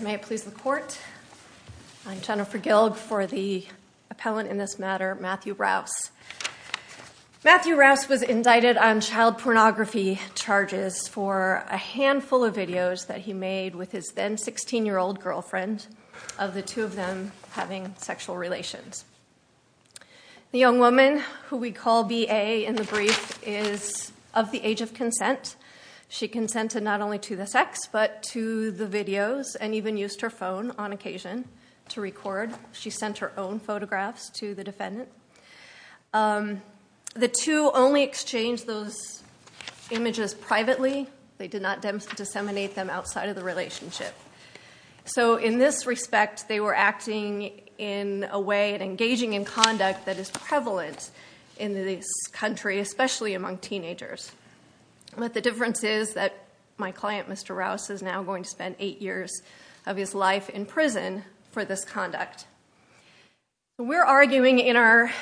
May it please the court, I'm Jennifer Gilg for the appellant in this matter, Matthew Rouse. Matthew Rouse was indicted on child pornography charges for a handful of videos that he made with his then 16-year-old girlfriend, of the two of them having sexual relations. The young woman, who we call B.A. in the brief, is of the age of consent. She consented not only to the sex, but to the videos and even used her phone on occasion to record. She sent her own photographs to the defendant. The two only exchanged those images privately. They did not disseminate them outside of the relationship. So in this respect, they were acting in a way and engaging in conduct that is prevalent in this country, especially among teenagers. But the difference is that my client, Mr. Rouse, is now going to spend eight years of his life in prison for this conduct. We're arguing in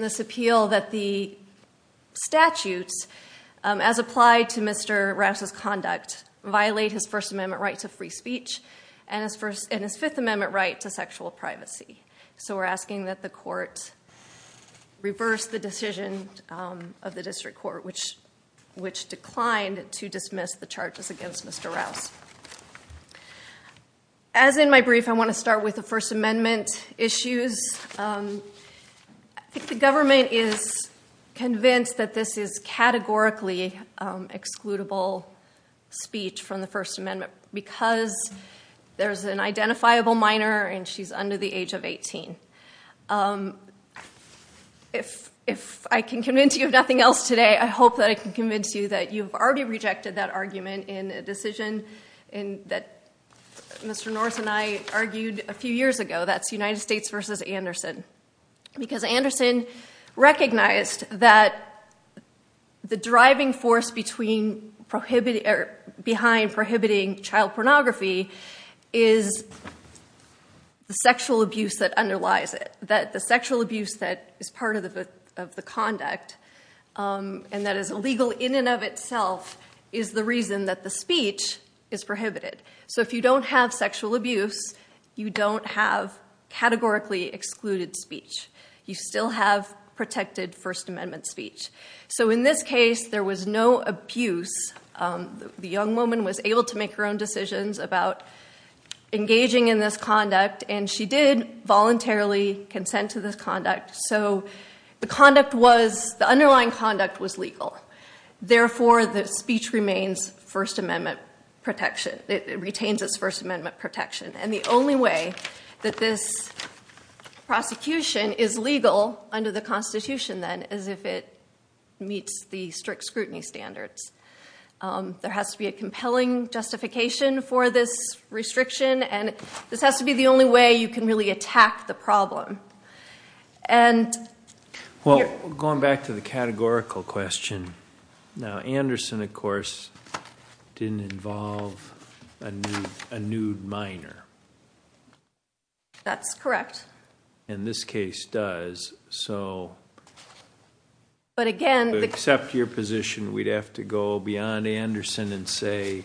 this appeal that the statutes, as applied to Mr. Rouse's conduct, violate his First Amendment right to free speech and his Fifth Amendment right to sexual privacy. So we're asking that the court reverse the decision of the district court, which declined to dismiss the charges against Mr. Rouse. As in my brief, I want to start with the First Amendment issues. I think the government is convinced that this is categorically excludable speech from the age of 18. If I can convince you of nothing else today, I hope that I can convince you that you've already rejected that argument in a decision that Mr. Norse and I argued a few years ago. That's United States versus Anderson. Because Anderson recognized that the driving force behind prohibiting child pornography is the sexual abuse that underlies it. That the sexual abuse that is part of the conduct and that is illegal in and of itself is the reason that the speech is prohibited. So if you don't have sexual abuse, you don't have categorically excluded speech. You still have protected First Amendment speech. So in this case, there was no abuse. The young woman was able to make her own decisions about engaging in this conduct. And she did voluntarily consent to this conduct. So the underlying conduct was legal. Therefore, the speech remains First Amendment protection. It retains its First Amendment protection. And the only way that this prosecution is legal under the Constitution, then, is if it meets the strict scrutiny standards. There has to be a compelling justification for this restriction. And this has to be the only way you can really attack the problem. And here- Well, going back to the categorical question. Now, Anderson, of course, didn't involve a nude minor. That's correct. And this case does. So- But again- To accept your position, we'd have to go beyond Anderson and say,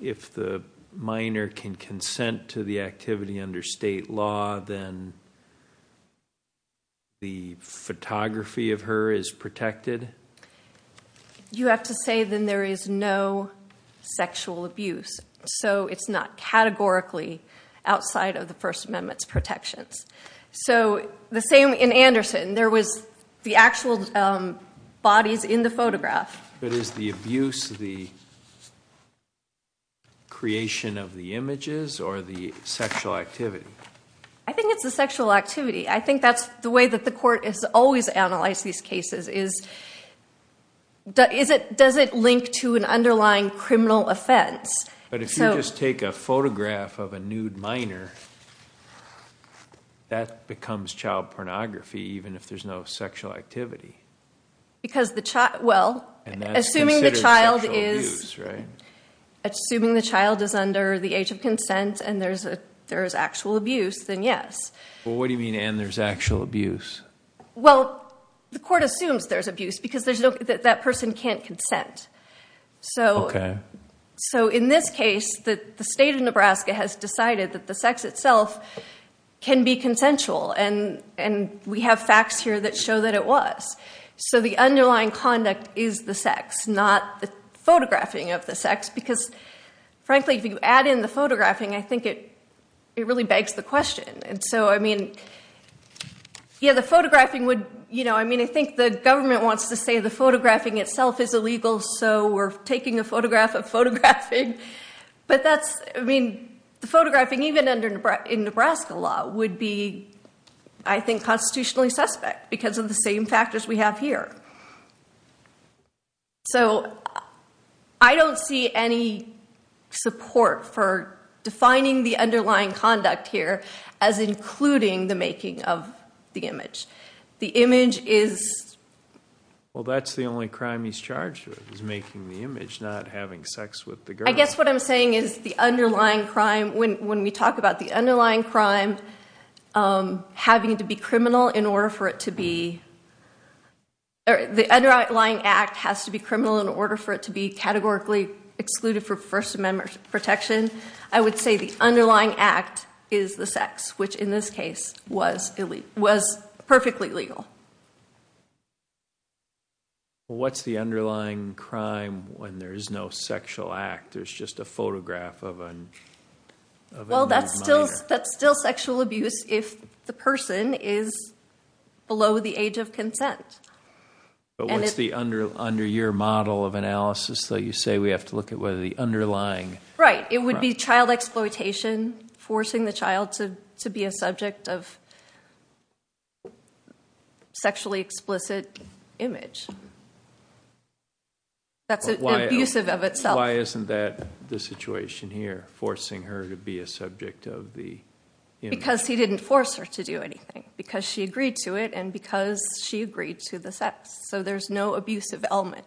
if the minor can consent to the activity under state law, then the photography of her is protected? You have to say, then, there is no sexual abuse. So it's not categorically outside of the First Amendment's protections. So the same in Anderson. There was the actual bodies in the photograph. But is the abuse the creation of the images or the sexual activity? I think it's the sexual activity. I think that's the way that the court has always analyzed these cases, is does it link to an underlying criminal offense? But if you just take a photograph of a nude minor, that becomes child pornography, even if there's no sexual activity. Because the child- Well, assuming the child is under the age of consent and there is actual abuse, then yes. Well, what do you mean, and there's actual abuse? Well, the court assumes there's abuse, because that person can't consent. OK. So in this case, the state of Nebraska has decided that the sex itself can be consensual, and we have facts here that show that it was. So the underlying conduct is the sex, not the photographing of the sex. Because frankly, if you add in the photographing, I think it really begs the question. And so I mean, yeah, the photographing would, I mean, I think the government wants to say the photographing itself is illegal. So we're taking a photograph of photographing. But that's, I mean, the photographing, even in Nebraska law, would be, I think, constitutionally suspect, because of the same factors we have here. So I don't see any support for defining the underlying conduct here as including the making of the image. The image is- Is making the image, not having sex with the girl. I guess what I'm saying is the underlying crime, when we talk about the underlying crime, having to be criminal in order for it to be, or the underlying act has to be criminal in order for it to be categorically excluded for First Amendment protection, I would say the underlying act is the sex, which in this case was perfectly legal. What's the underlying crime when there is no sexual act? There's just a photograph of an- Well, that's still sexual abuse if the person is below the age of consent. But what's the under-year model of analysis that you say we have to look at whether the underlying- Right. It would be child exploitation, forcing the child to be a subject of- Sexually explicit image, that's abusive of itself. Why isn't that the situation here, forcing her to be a subject of the image? Because he didn't force her to do anything, because she agreed to it, and because she agreed to the sex, so there's no abusive element.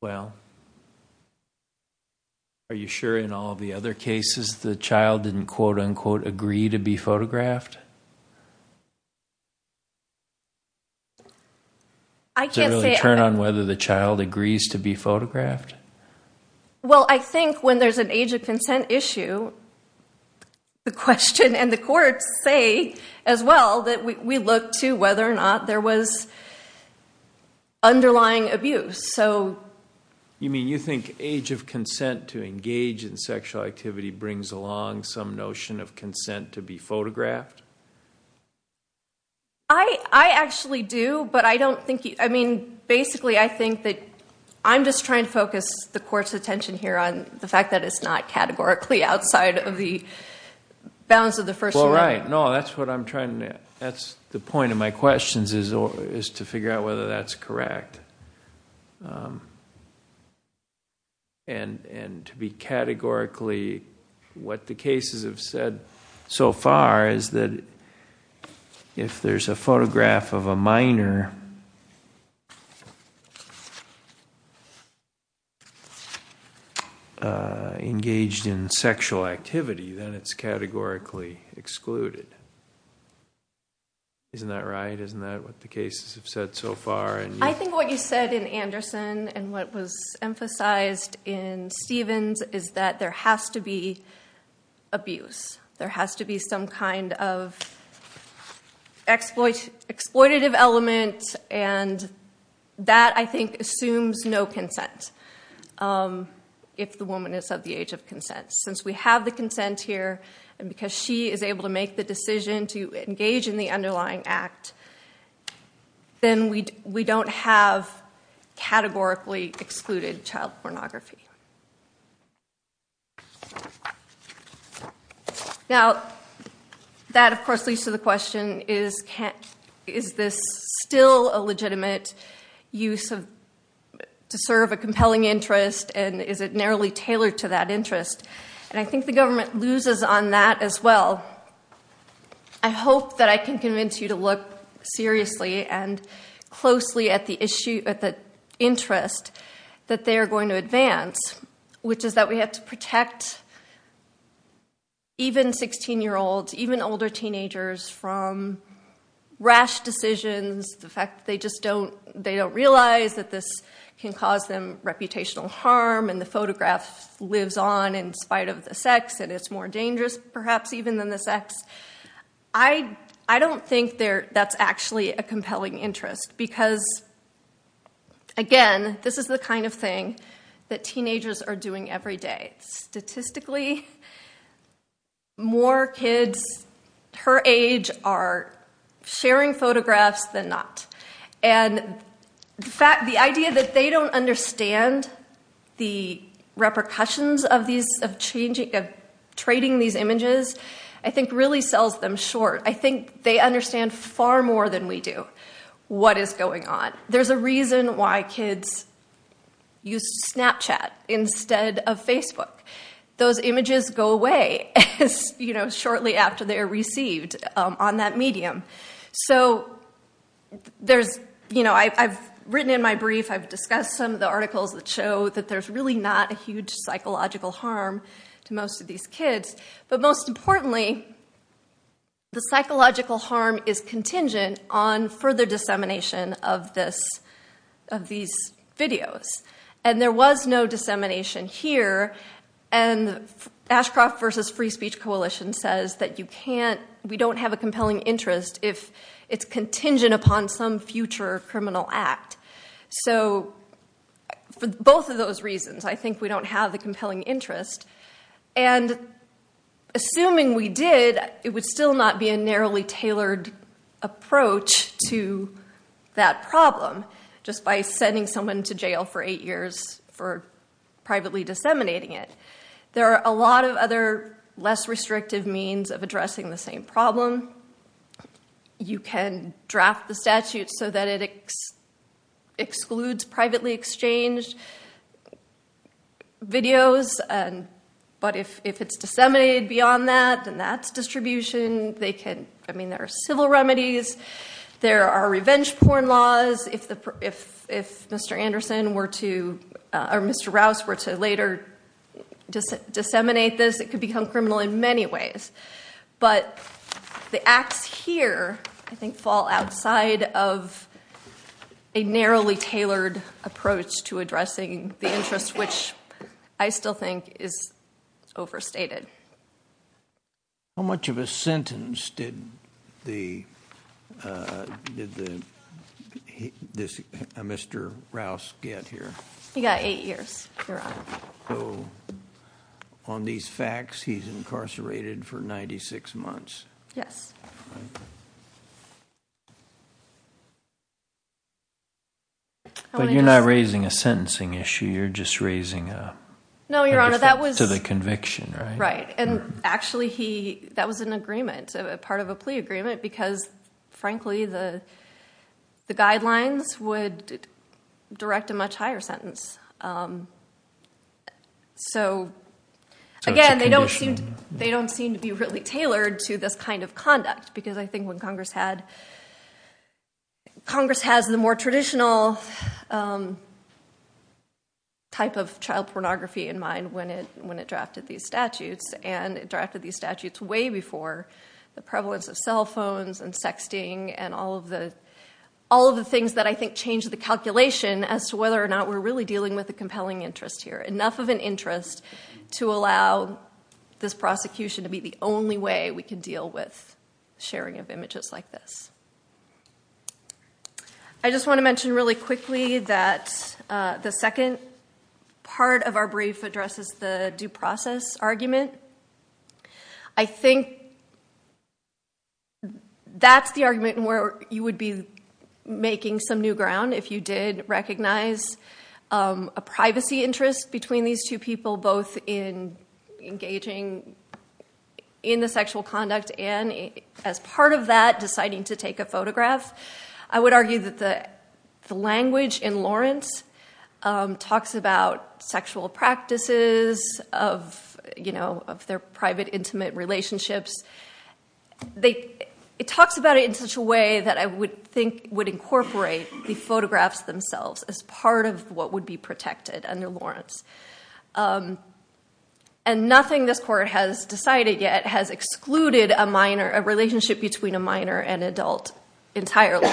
Well, are you sure in all the other cases the child didn't, quote unquote, agree to be photographed? I can't say- Does it really turn on whether the child agrees to be photographed? Well, I think when there's an age of consent issue, the question, and the We look to whether or not there was underlying abuse, so- You mean you think age of consent to engage in sexual activity brings along some notion of consent to be photographed? I actually do, but I don't think- I mean, basically I think that I'm just trying to focus the court's attention here on the fact that it's not categorically outside of the bounds of the first amendment. Right, no, that's what I'm trying to... that's the point of my questions, is to figure out whether that's correct, and to be categorically... Isn't that right? Isn't that what the cases have said so far? I think what you said in Anderson, and what was emphasized in Stevens, is that there has to be abuse. There has to be some kind of exploitative element, and that, I think, assumes no consent, if the woman is of the age of consent. Since we have the consent here, and because she is able to make the decision to engage in the underlying act, then we don't have categorically excluded child pornography. Now, that, of course, leads to the question, is this still a legitimate use of... to serve a compelling interest, and is it narrowly tailored to that interest? And, I think the government loses on that as well. I hope that I can convince you to look seriously and closely at the interest that they are going to advance, which is that we have to protect even 16-year-olds, even older teenagers, from rash decisions. The fact that they just don't realize that this can cause them reputational harm, and the photograph lives on in spite of the sex, and it's more dangerous, perhaps, even than the sex. I don't think that's actually a compelling interest, because, again, this is the kind of thing that teenagers are doing every day. Statistically, more kids her age are sharing photographs than not. And, in fact, the idea that they don't understand the repercussions of trading these images, I think, really sells them short. I think they understand far more than we do what is going on. There's a reason why kids use Snapchat instead of Facebook. Those images go away shortly after they are received on that medium. So, I've written in my brief, I've discussed some of the articles that show that there's really not a huge psychological harm to most of these kids. But, most importantly, the psychological harm is contingent on further dissemination of these videos. And there was no dissemination here, and Ashcroft versus Free Speech Coalition says that we don't have a compelling interest if it's contingent upon some future criminal act. So, for both of those reasons, I think we don't have the compelling interest. And, assuming we did, it would still not be a narrowly tailored approach to that problem, just by sending someone to jail for eight years for privately disseminating it. There are a lot of other, less restrictive means of addressing the same problem. You can draft the statute so that it excludes privately exchanged videos. But, if it's disseminated beyond that, then that's distribution. There are civil remedies. There are revenge porn laws. If Mr. Anderson were to, or Mr. Rouse, were to later disseminate this, it could become criminal in many ways. But, the acts here, I think, fall outside of a narrowly tailored approach to addressing the interest, which I still think is overstated. How much of a sentence did Mr. Rouse get here? So, on these facts, he's incarcerated for 96 months? Yes. But, you're not raising a sentencing issue, you're just raising a... No, Your Honor, that was... To the conviction, right? Right. And, actually, that was an agreement, part of a plea agreement, because, frankly, the guidelines would direct a much higher sentence. So, again, they don't seem to be really tailored to this kind of conduct. Because, I think, when Congress had... Congress has the more traditional type of child pornography in mind when it drafted these statutes. And, it drafted these statutes way before the prevalence of cell phones and sexting and all of the things that, I think, changed the calculation as to whether or not we're really dealing with a compelling interest here. Enough of an interest to allow this prosecution to be the only way we can deal with sharing of images like this. I just want to mention really quickly that the second part of our brief addresses the due process argument. I think that's the argument where you would be making some new ground if you did recognize a privacy interest between these two people, both in engaging in the sexual conduct and, as part of that, deciding to take a photograph. I would argue that the language in Lawrence talks about sexual practices of their private intimate relationships. It talks about it in such a way that I would think would incorporate the photographs themselves as part of what would be protected under Lawrence. And, nothing this court has decided yet has excluded a minor, a relationship between a minor and adult entirely.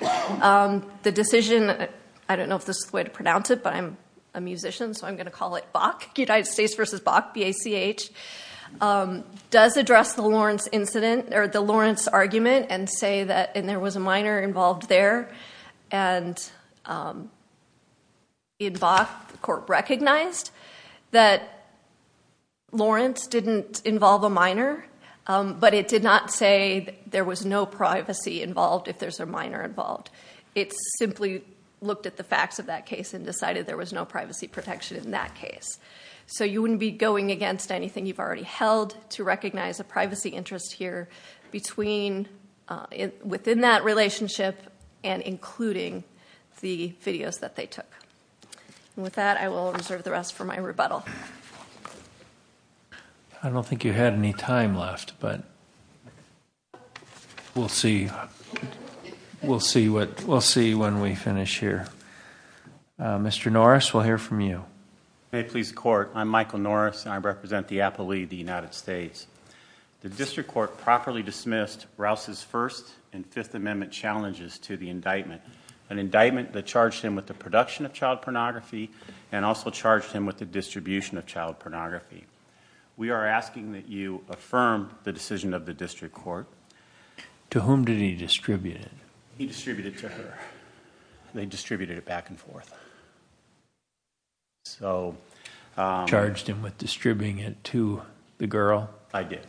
The decision, I don't know if this is the way to pronounce it, but I'm a musician, so I'm going to call it BACH, United States versus BACH, B-A-C-H, does address the Lawrence argument and say that there was a minor involved there. And, in BACH, the court recognized that Lawrence didn't involve a minor, but it did not say there was no privacy involved if there's a minor involved. It simply looked at the facts of that case and decided there was no privacy protection in that case. So, you wouldn't be going against anything you've already held to recognize a privacy interest here within that relationship and including the videos that they took. And, with that, I will reserve the rest for my rebuttal. I don't think you had any time left, but we'll see when we finish here. Mr. Norris, we'll hear from you. May it please the court, I'm Michael Norris and I represent the appellee of the United States. The district court properly dismissed Rouse's First and Fifth Amendment challenges to the indictment, an indictment that charged him with the production of child pornography and also charged him with the distribution of child pornography. We are asking that you affirm the decision of the district court. To whom did he distribute it? He distributed it to her. They distributed it back and forth. Charged him with distributing it to the girl? I did.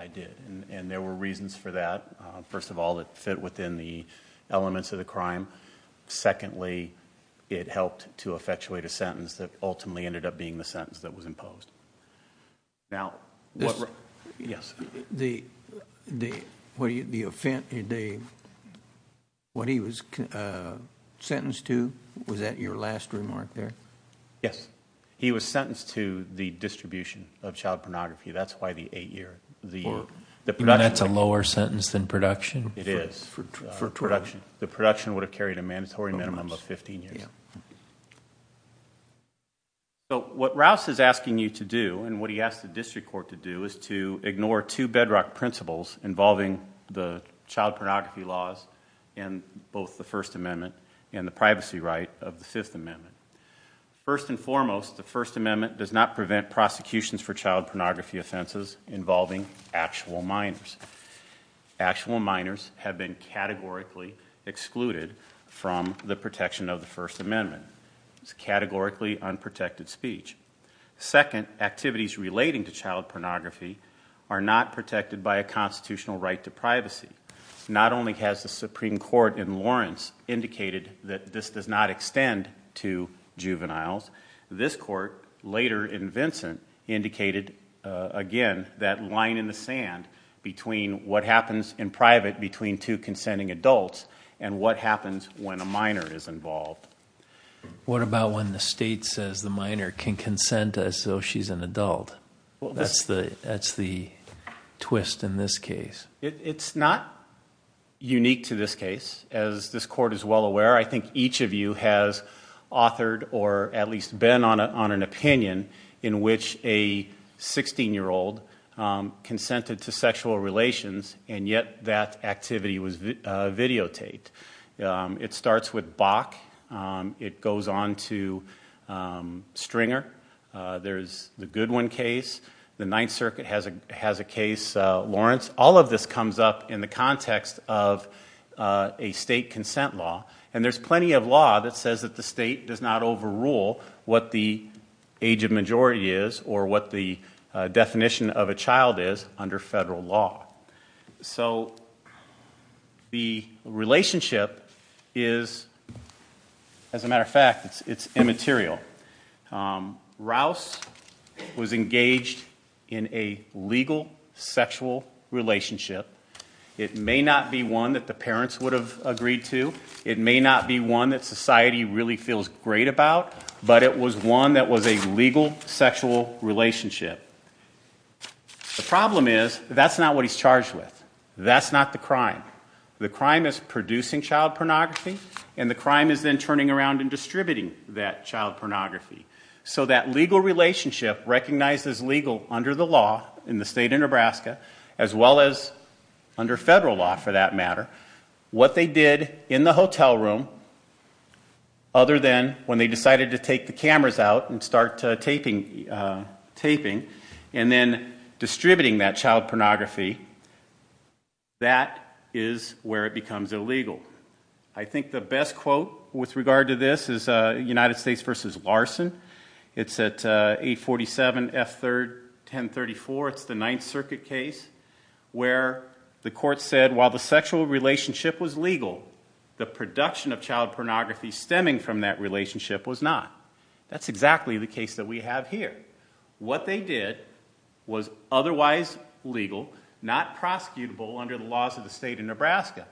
I did. And there were reasons for that. First of all, it fit within the elements of the crime. Secondly, it helped to effectuate a sentence that ultimately ended up being the sentence that was imposed. Now, yes. The, the, what do you, the, what he was sentenced to? Was that your last remark there? Yes. He was sentenced to the distribution of child pornography. That's why the eight year, the production. That's a lower sentence than production? It is. For 12. The production would have carried a mandatory minimum of 15 years. Yeah. So what Rouse is asking you to do and what he asked the district court to do is to ignore two bedrock principles involving the child pornography laws and both the First Amendment and the privacy right of the Fifth Amendment. First and foremost, the First Amendment does not prevent prosecutions for child pornography offenses involving actual minors. Actual minors have been categorically excluded from the protection of the First Amendment. It's categorically unprotected speech. Second, activities relating to child pornography are not protected by a constitutional right to privacy. Not only has the Supreme Court in Lawrence indicated that this does not extend to juveniles. This court later in Vincent indicated again that line in the sand between what happens in private between two consenting adults and what happens when a minor is involved. What about when the state says the minor can consent as though she's an adult? That's the twist in this case. It's not unique to this case. As this court is well aware, I think each of you has authored or at least been on an opinion in which a 16 year old consented to sexual relations and yet that activity was videotaped. It starts with Bach. It goes on to Stringer. There's the Goodwin case. The Ninth Circuit has a case, Lawrence. All of this comes up in the context of a state consent law. And there's plenty of law that says that the state does not overrule what the age of majority is or what the definition of a child is under federal law. So the relationship is, as a matter of fact, it's immaterial. Rouse was engaged in a legal sexual relationship. It may not be one that the parents would have agreed to. It may not be one that society really feels great about. But it was one that was a legal sexual relationship. The problem is, that's not what he's charged with. That's not the crime. The crime is producing child pornography and the crime is then turning around and distributing that child pornography. So that legal relationship, recognized as legal under the law in the state of Nebraska, as well as under federal law for that matter, what they did in the hotel room, other than when they decided to take the cameras out and start taping, and then distributing that child pornography, that is where it becomes illegal. I think the best quote with regard to this is United States v. Larson. It's at 847 F. 3rd, 1034. It's the Ninth Circuit case where the court said while the sexual relationship was legal, the production of child pornography stemming from that relationship was not. That's exactly the case that we have here. What they did was otherwise legal, not prosecutable under the laws of the state of Nebraska.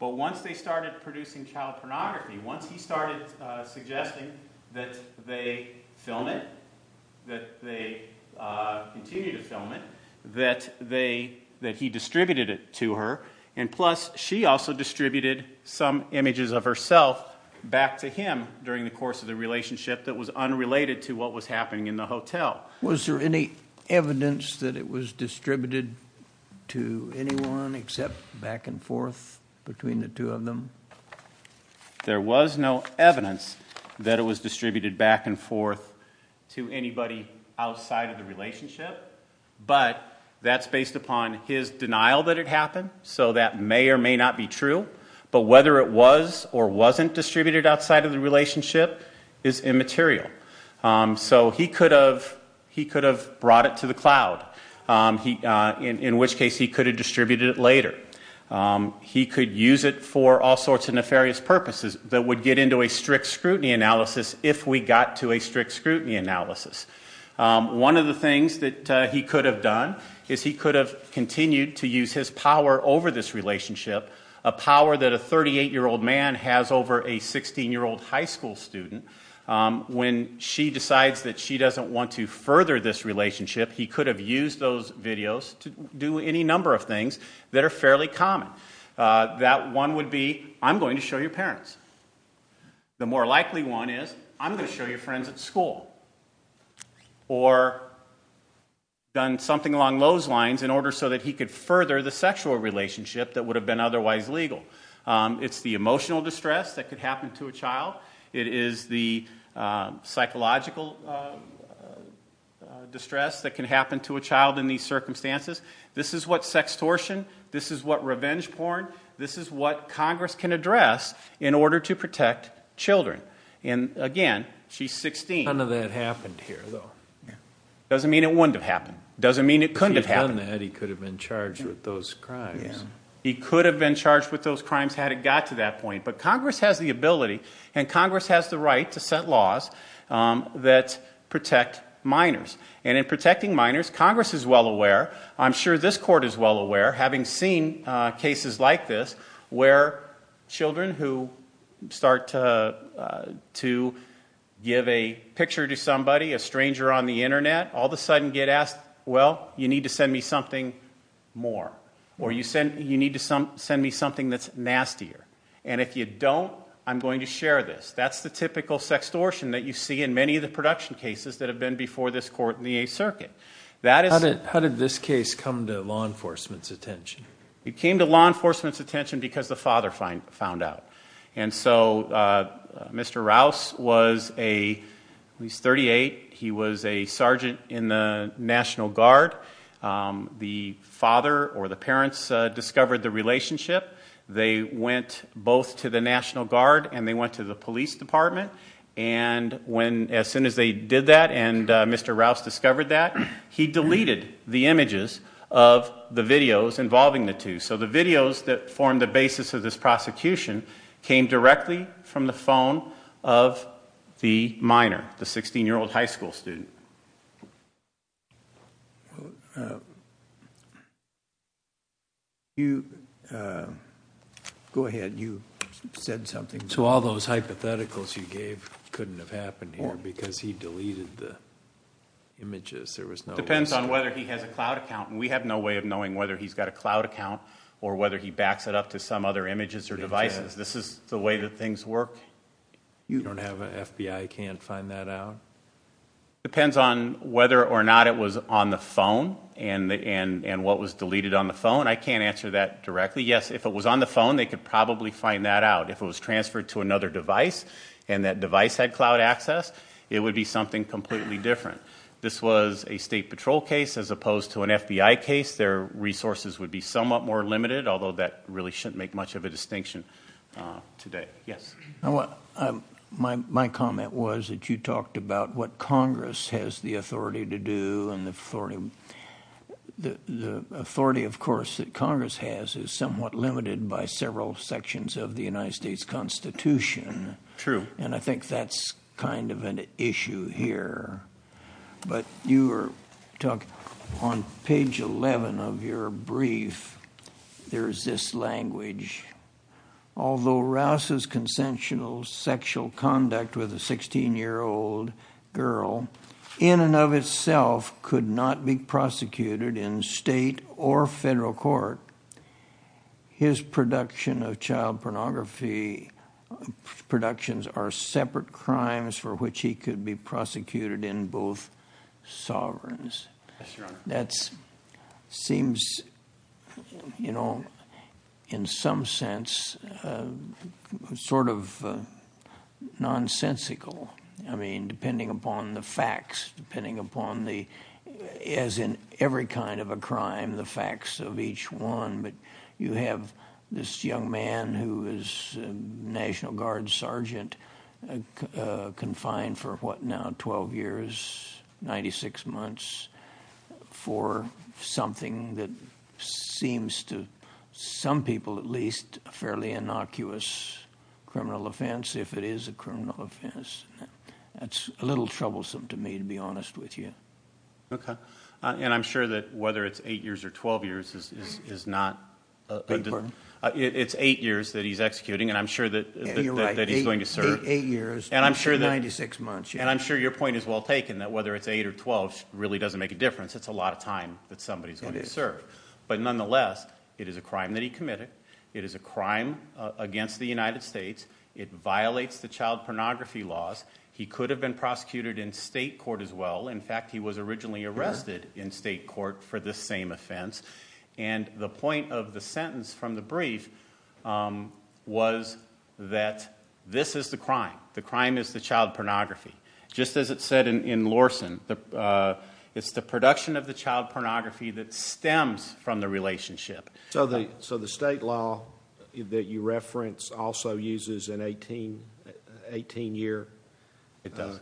But once they started producing child pornography, once he started suggesting that they film it, that they continue to film it, that he distributed it to her, and plus she also distributed some images of herself back to him during the course of the relationship that was unrelated to what was happening in the hotel. Was there any evidence that it was distributed to anyone except back and forth between the two of them? There was no evidence that it was distributed back and forth to anybody outside of the relationship, but that's based upon his denial that it happened, so that may or may not be true. But whether it was or wasn't distributed outside of the relationship is immaterial. So he could have brought it to the cloud, in which case he could have distributed it later. He could use it for all sorts of nefarious purposes that would get into a strict scrutiny analysis if we got to a strict scrutiny analysis. One of the things that he could have done is he could have continued to use his power over this relationship, a power that a 38-year-old man has over a 16-year-old high school student. When she decides that she doesn't want to further this relationship, he could have used those videos to do any number of things that are fairly common. That one would be, I'm going to show your parents. The more likely one is, I'm going to show your friends at school. Or done something along those lines in order so that he could further the sexual relationship that would have been otherwise legal. It's the emotional distress that could happen to a child. It is the psychological distress that can happen to a child in these circumstances. This is what sextortion, this is what revenge porn, this is what Congress can address in order to protect children. And again, she's 16. None of that happened here, though. Doesn't mean it wouldn't have happened. Doesn't mean it couldn't have happened. If he had done that, he could have been charged with those crimes. He could have been charged with those crimes had it got to that point. But Congress has the ability and Congress has the right to set laws that protect minors. And in protecting minors, Congress is well aware, I'm sure this court is well aware, having seen cases like this where children who start to give a picture to somebody, a stranger on the internet, all of a sudden get asked, well, you need to send me something more. Or you need to send me something that's nastier. And if you don't, I'm going to share this. That's the typical sextortion that you see in many of the production cases that have been before this court in the Eighth Circuit. How did this case come to law enforcement's attention? It came to law enforcement's attention because the father found out. And so Mr. Rouse was at least 38. He was a sergeant in the National Guard. The father or the parents discovered the relationship. They went both to the National Guard and they went to the police department. And as soon as they did that and Mr. Rouse discovered that, he deleted the images of the videos involving the two. So the videos that formed the basis of this prosecution came directly from the phone of the minor, the 16-year-old high school student. Go ahead. You said something. So all those hypotheticals you gave couldn't have happened here because he deleted the images. There was no way. It depends on whether he has a cloud account. And we have no way of knowing whether he's got a cloud account or whether he backs it up to some other images or devices. This is the way that things work. You don't have an FBI can't find that out? Depends on whether or not it was on the phone and what was deleted on the phone. I can't answer that directly. Yes, if it was on the phone, they could probably find that out. If it was transferred to another device and that device had cloud access, it would be something completely different. This was a state patrol case as opposed to an FBI case. Their resources would be somewhat more limited, although that really shouldn't make much of a distinction today. Yes. My comment was that you talked about what Congress has the authority to do. And the authority, of course, that Congress has is somewhat limited by several sections of the United States Constitution. True. And I think that's kind of an issue here. But you were talking on page 11 of your brief, there is this language. Although Rouse's consensual sexual conduct with a 16-year-old girl in and of itself could not be prosecuted in state or federal court, his production of child pornography productions are separate crimes for which he could be prosecuted in both sovereigns. Yes, Your Honor. That seems, you know, in some sense sort of nonsensical. I mean, depending upon the facts, depending upon the, as in every kind of a crime, the facts of each one. But you have this young man who is a National Guard sergeant confined for, what now, 12 years, 96 months, for something that seems to some people at least a fairly innocuous criminal offense, if it is a criminal offense. That's a little troublesome to me, to be honest with you. Okay. And I'm sure that whether it's 8 years or 12 years is not- Beg your pardon? It's 8 years that he's executing, and I'm sure that he's going to serve- Yeah, you're right, 8 years, 96 months. And I'm sure your point is well taken, that whether it's 8 or 12 really doesn't make a difference. It's a lot of time that somebody's going to serve. But nonetheless, it is a crime that he committed. It is a crime against the United States. It violates the child pornography laws. He could have been prosecuted in state court as well. In fact, he was originally arrested in state court for this same offense. And the point of the sentence from the brief was that this is the crime. The crime is the child pornography. Just as it said in Lorson, it's the production of the child pornography that stems from the relationship. So the state law that you reference also uses an 18-year cutoff? It does,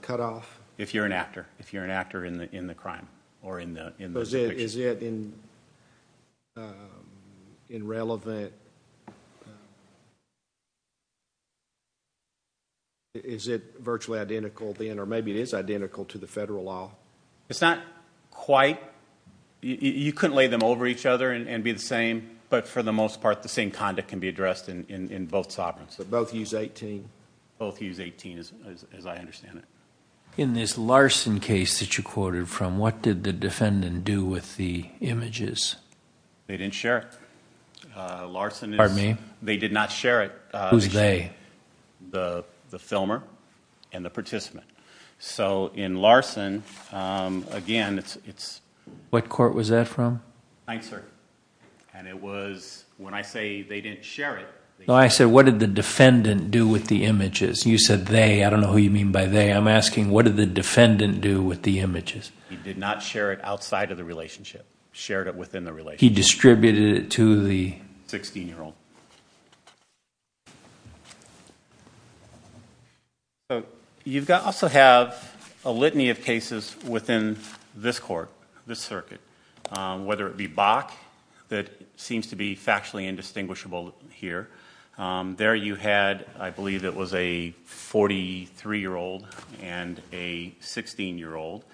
if you're an actor. If you're an actor in the crime or in the conviction. Is it irrelevant? Is it virtually identical then, or maybe it is identical to the federal law? It's not quite. You couldn't lay them over each other and be the same. But for the most part, the same conduct can be addressed in both sovereigns. So both use 18? Both use 18, as I understand it. In this Larson case that you quoted from, what did the defendant do with the images? They didn't share it. Larson is? Pardon me? They did not share it. Who's they? The filmer and the participant. So in Larson, again, it's... What court was that from? Ninth Circuit. And it was, when I say they didn't share it... No, I said what did the defendant do with the images? You said they. I don't know who you mean by they. I'm asking what did the defendant do with the images? He did not share it outside of the relationship. He shared it within the relationship. He distributed it to the... 16-year-old. You also have a litany of cases within this court, this circuit. Whether it be Bach, that seems to be factually indistinguishable here. There you had, I believe it was a 43-year-old and a 16-year-old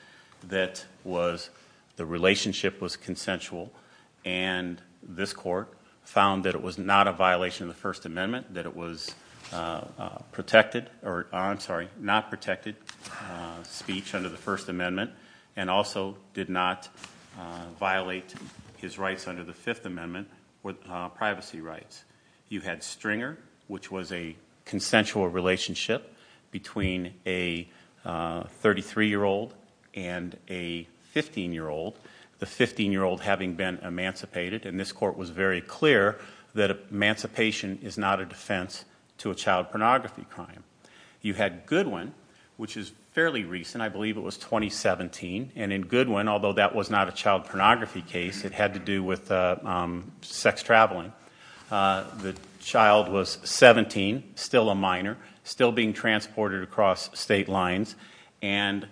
that was... The relationship was consensual. And this court found that it was not a violation of the First Amendment. That it was protected... I'm sorry, not protected speech under the First Amendment. And also did not violate his rights under the Fifth Amendment. Privacy rights. You had Stringer, which was a consensual relationship between a 33-year-old and a 15-year-old. The 15-year-old having been emancipated. And this court was very clear that emancipation is not a defense to a child pornography crime. You had Goodwin, which is fairly recent. I believe it was 2017. And in Goodwin, although that was not a child pornography case. It had to do with sex traveling. The child was 17. Still a minor. Still being transported across state lines. And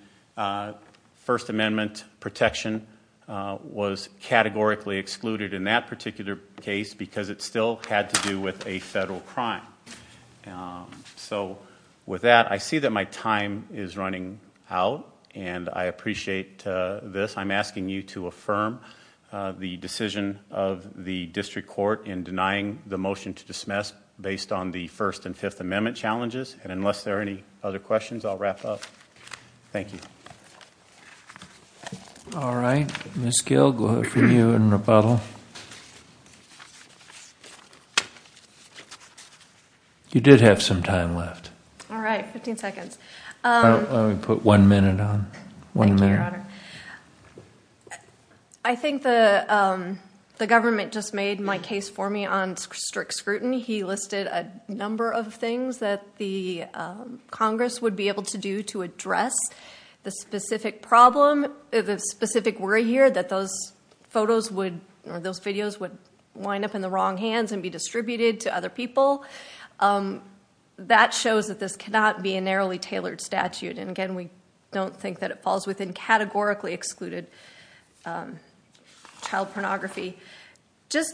First Amendment protection was categorically excluded in that particular case. Because it still had to do with a federal crime. So with that, I see that my time is running out. And I appreciate this. I'm asking you to affirm the decision of the district court in denying the motion to dismiss. Based on the First and Fifth Amendment challenges. And unless there are any other questions, I'll wrap up. Thank you. All right. Ms. Gill, go ahead for you in rebuttal. You did have some time left. All right. 15 seconds. Let me put one minute on. Thank you, Your Honor. I think the government just made my case for me on strict scrutiny. He listed a number of things that the Congress would be able to do to address the specific problem. The specific worry here that those photos would, or those videos would line up in the wrong hands. And be distributed to other people. That shows that this cannot be a narrowly tailored statute. And again, we don't think that it falls within categorically excluded child pornography.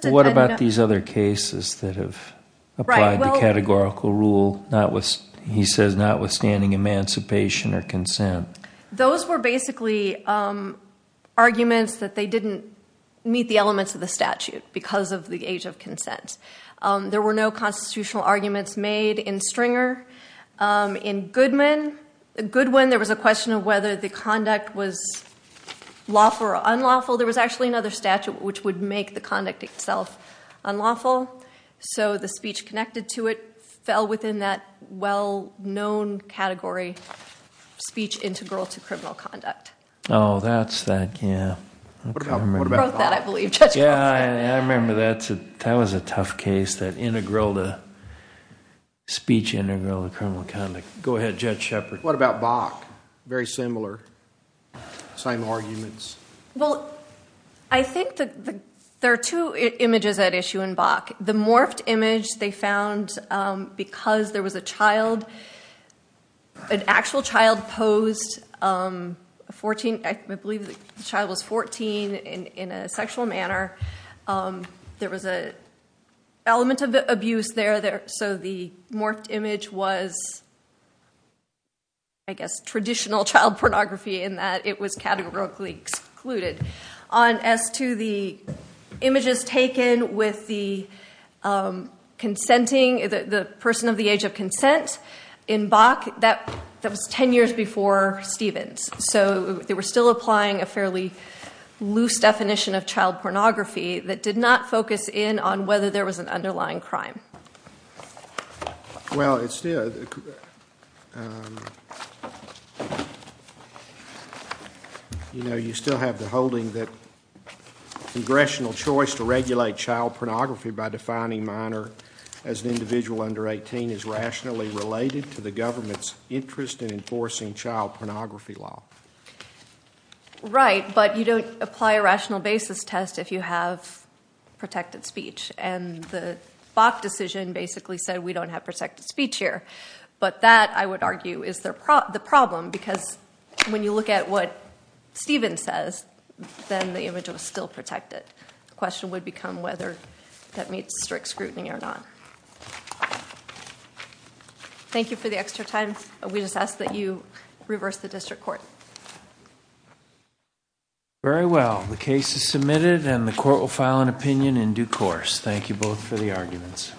What about these other cases that have applied the categorical rule? He says notwithstanding emancipation or consent. Those were basically arguments that they didn't meet the elements of the statute. Because of the age of consent. There were no constitutional arguments made in Stringer. In Goodwin, there was a question of whether the conduct was lawful or unlawful. There was actually another statute which would make the conduct itself unlawful. So the speech connected to it fell within that well-known category. Speech integral to criminal conduct. Oh, that's that. Yeah. I remember that. That was a tough case. That speech integral to criminal conduct. Go ahead, Judge Shepard. What about Bach? Very similar. Same arguments. Well, I think there are two images at issue in Bach. The morphed image they found because there was a child. An actual child posed. I believe the child was 14 in a sexual manner. There was an element of abuse there. So the morphed image was, I guess, traditional child pornography in that it was categorically excluded. As to the images taken with the person of the age of consent in Bach, that was 10 years before Stevens. So they were still applying a fairly loose definition of child pornography that did not focus in on whether there was an underlying crime. Well, you still have the holding that congressional choice to regulate child pornography by defining minor as an individual under 18 is rationally related to the government's interest in enforcing child pornography law. Right, but you don't apply a rational basis test if you have protected speech. And the Bach decision basically said we don't have protected speech here. But that, I would argue, is the problem because when you look at what Stevens says, then the image was still protected. The question would become whether that meets strict scrutiny or not. Thank you for the extra time. We just ask that you reverse the district court. Very well. The case is submitted and the court will file an opinion in due course. Thank you both for the arguments.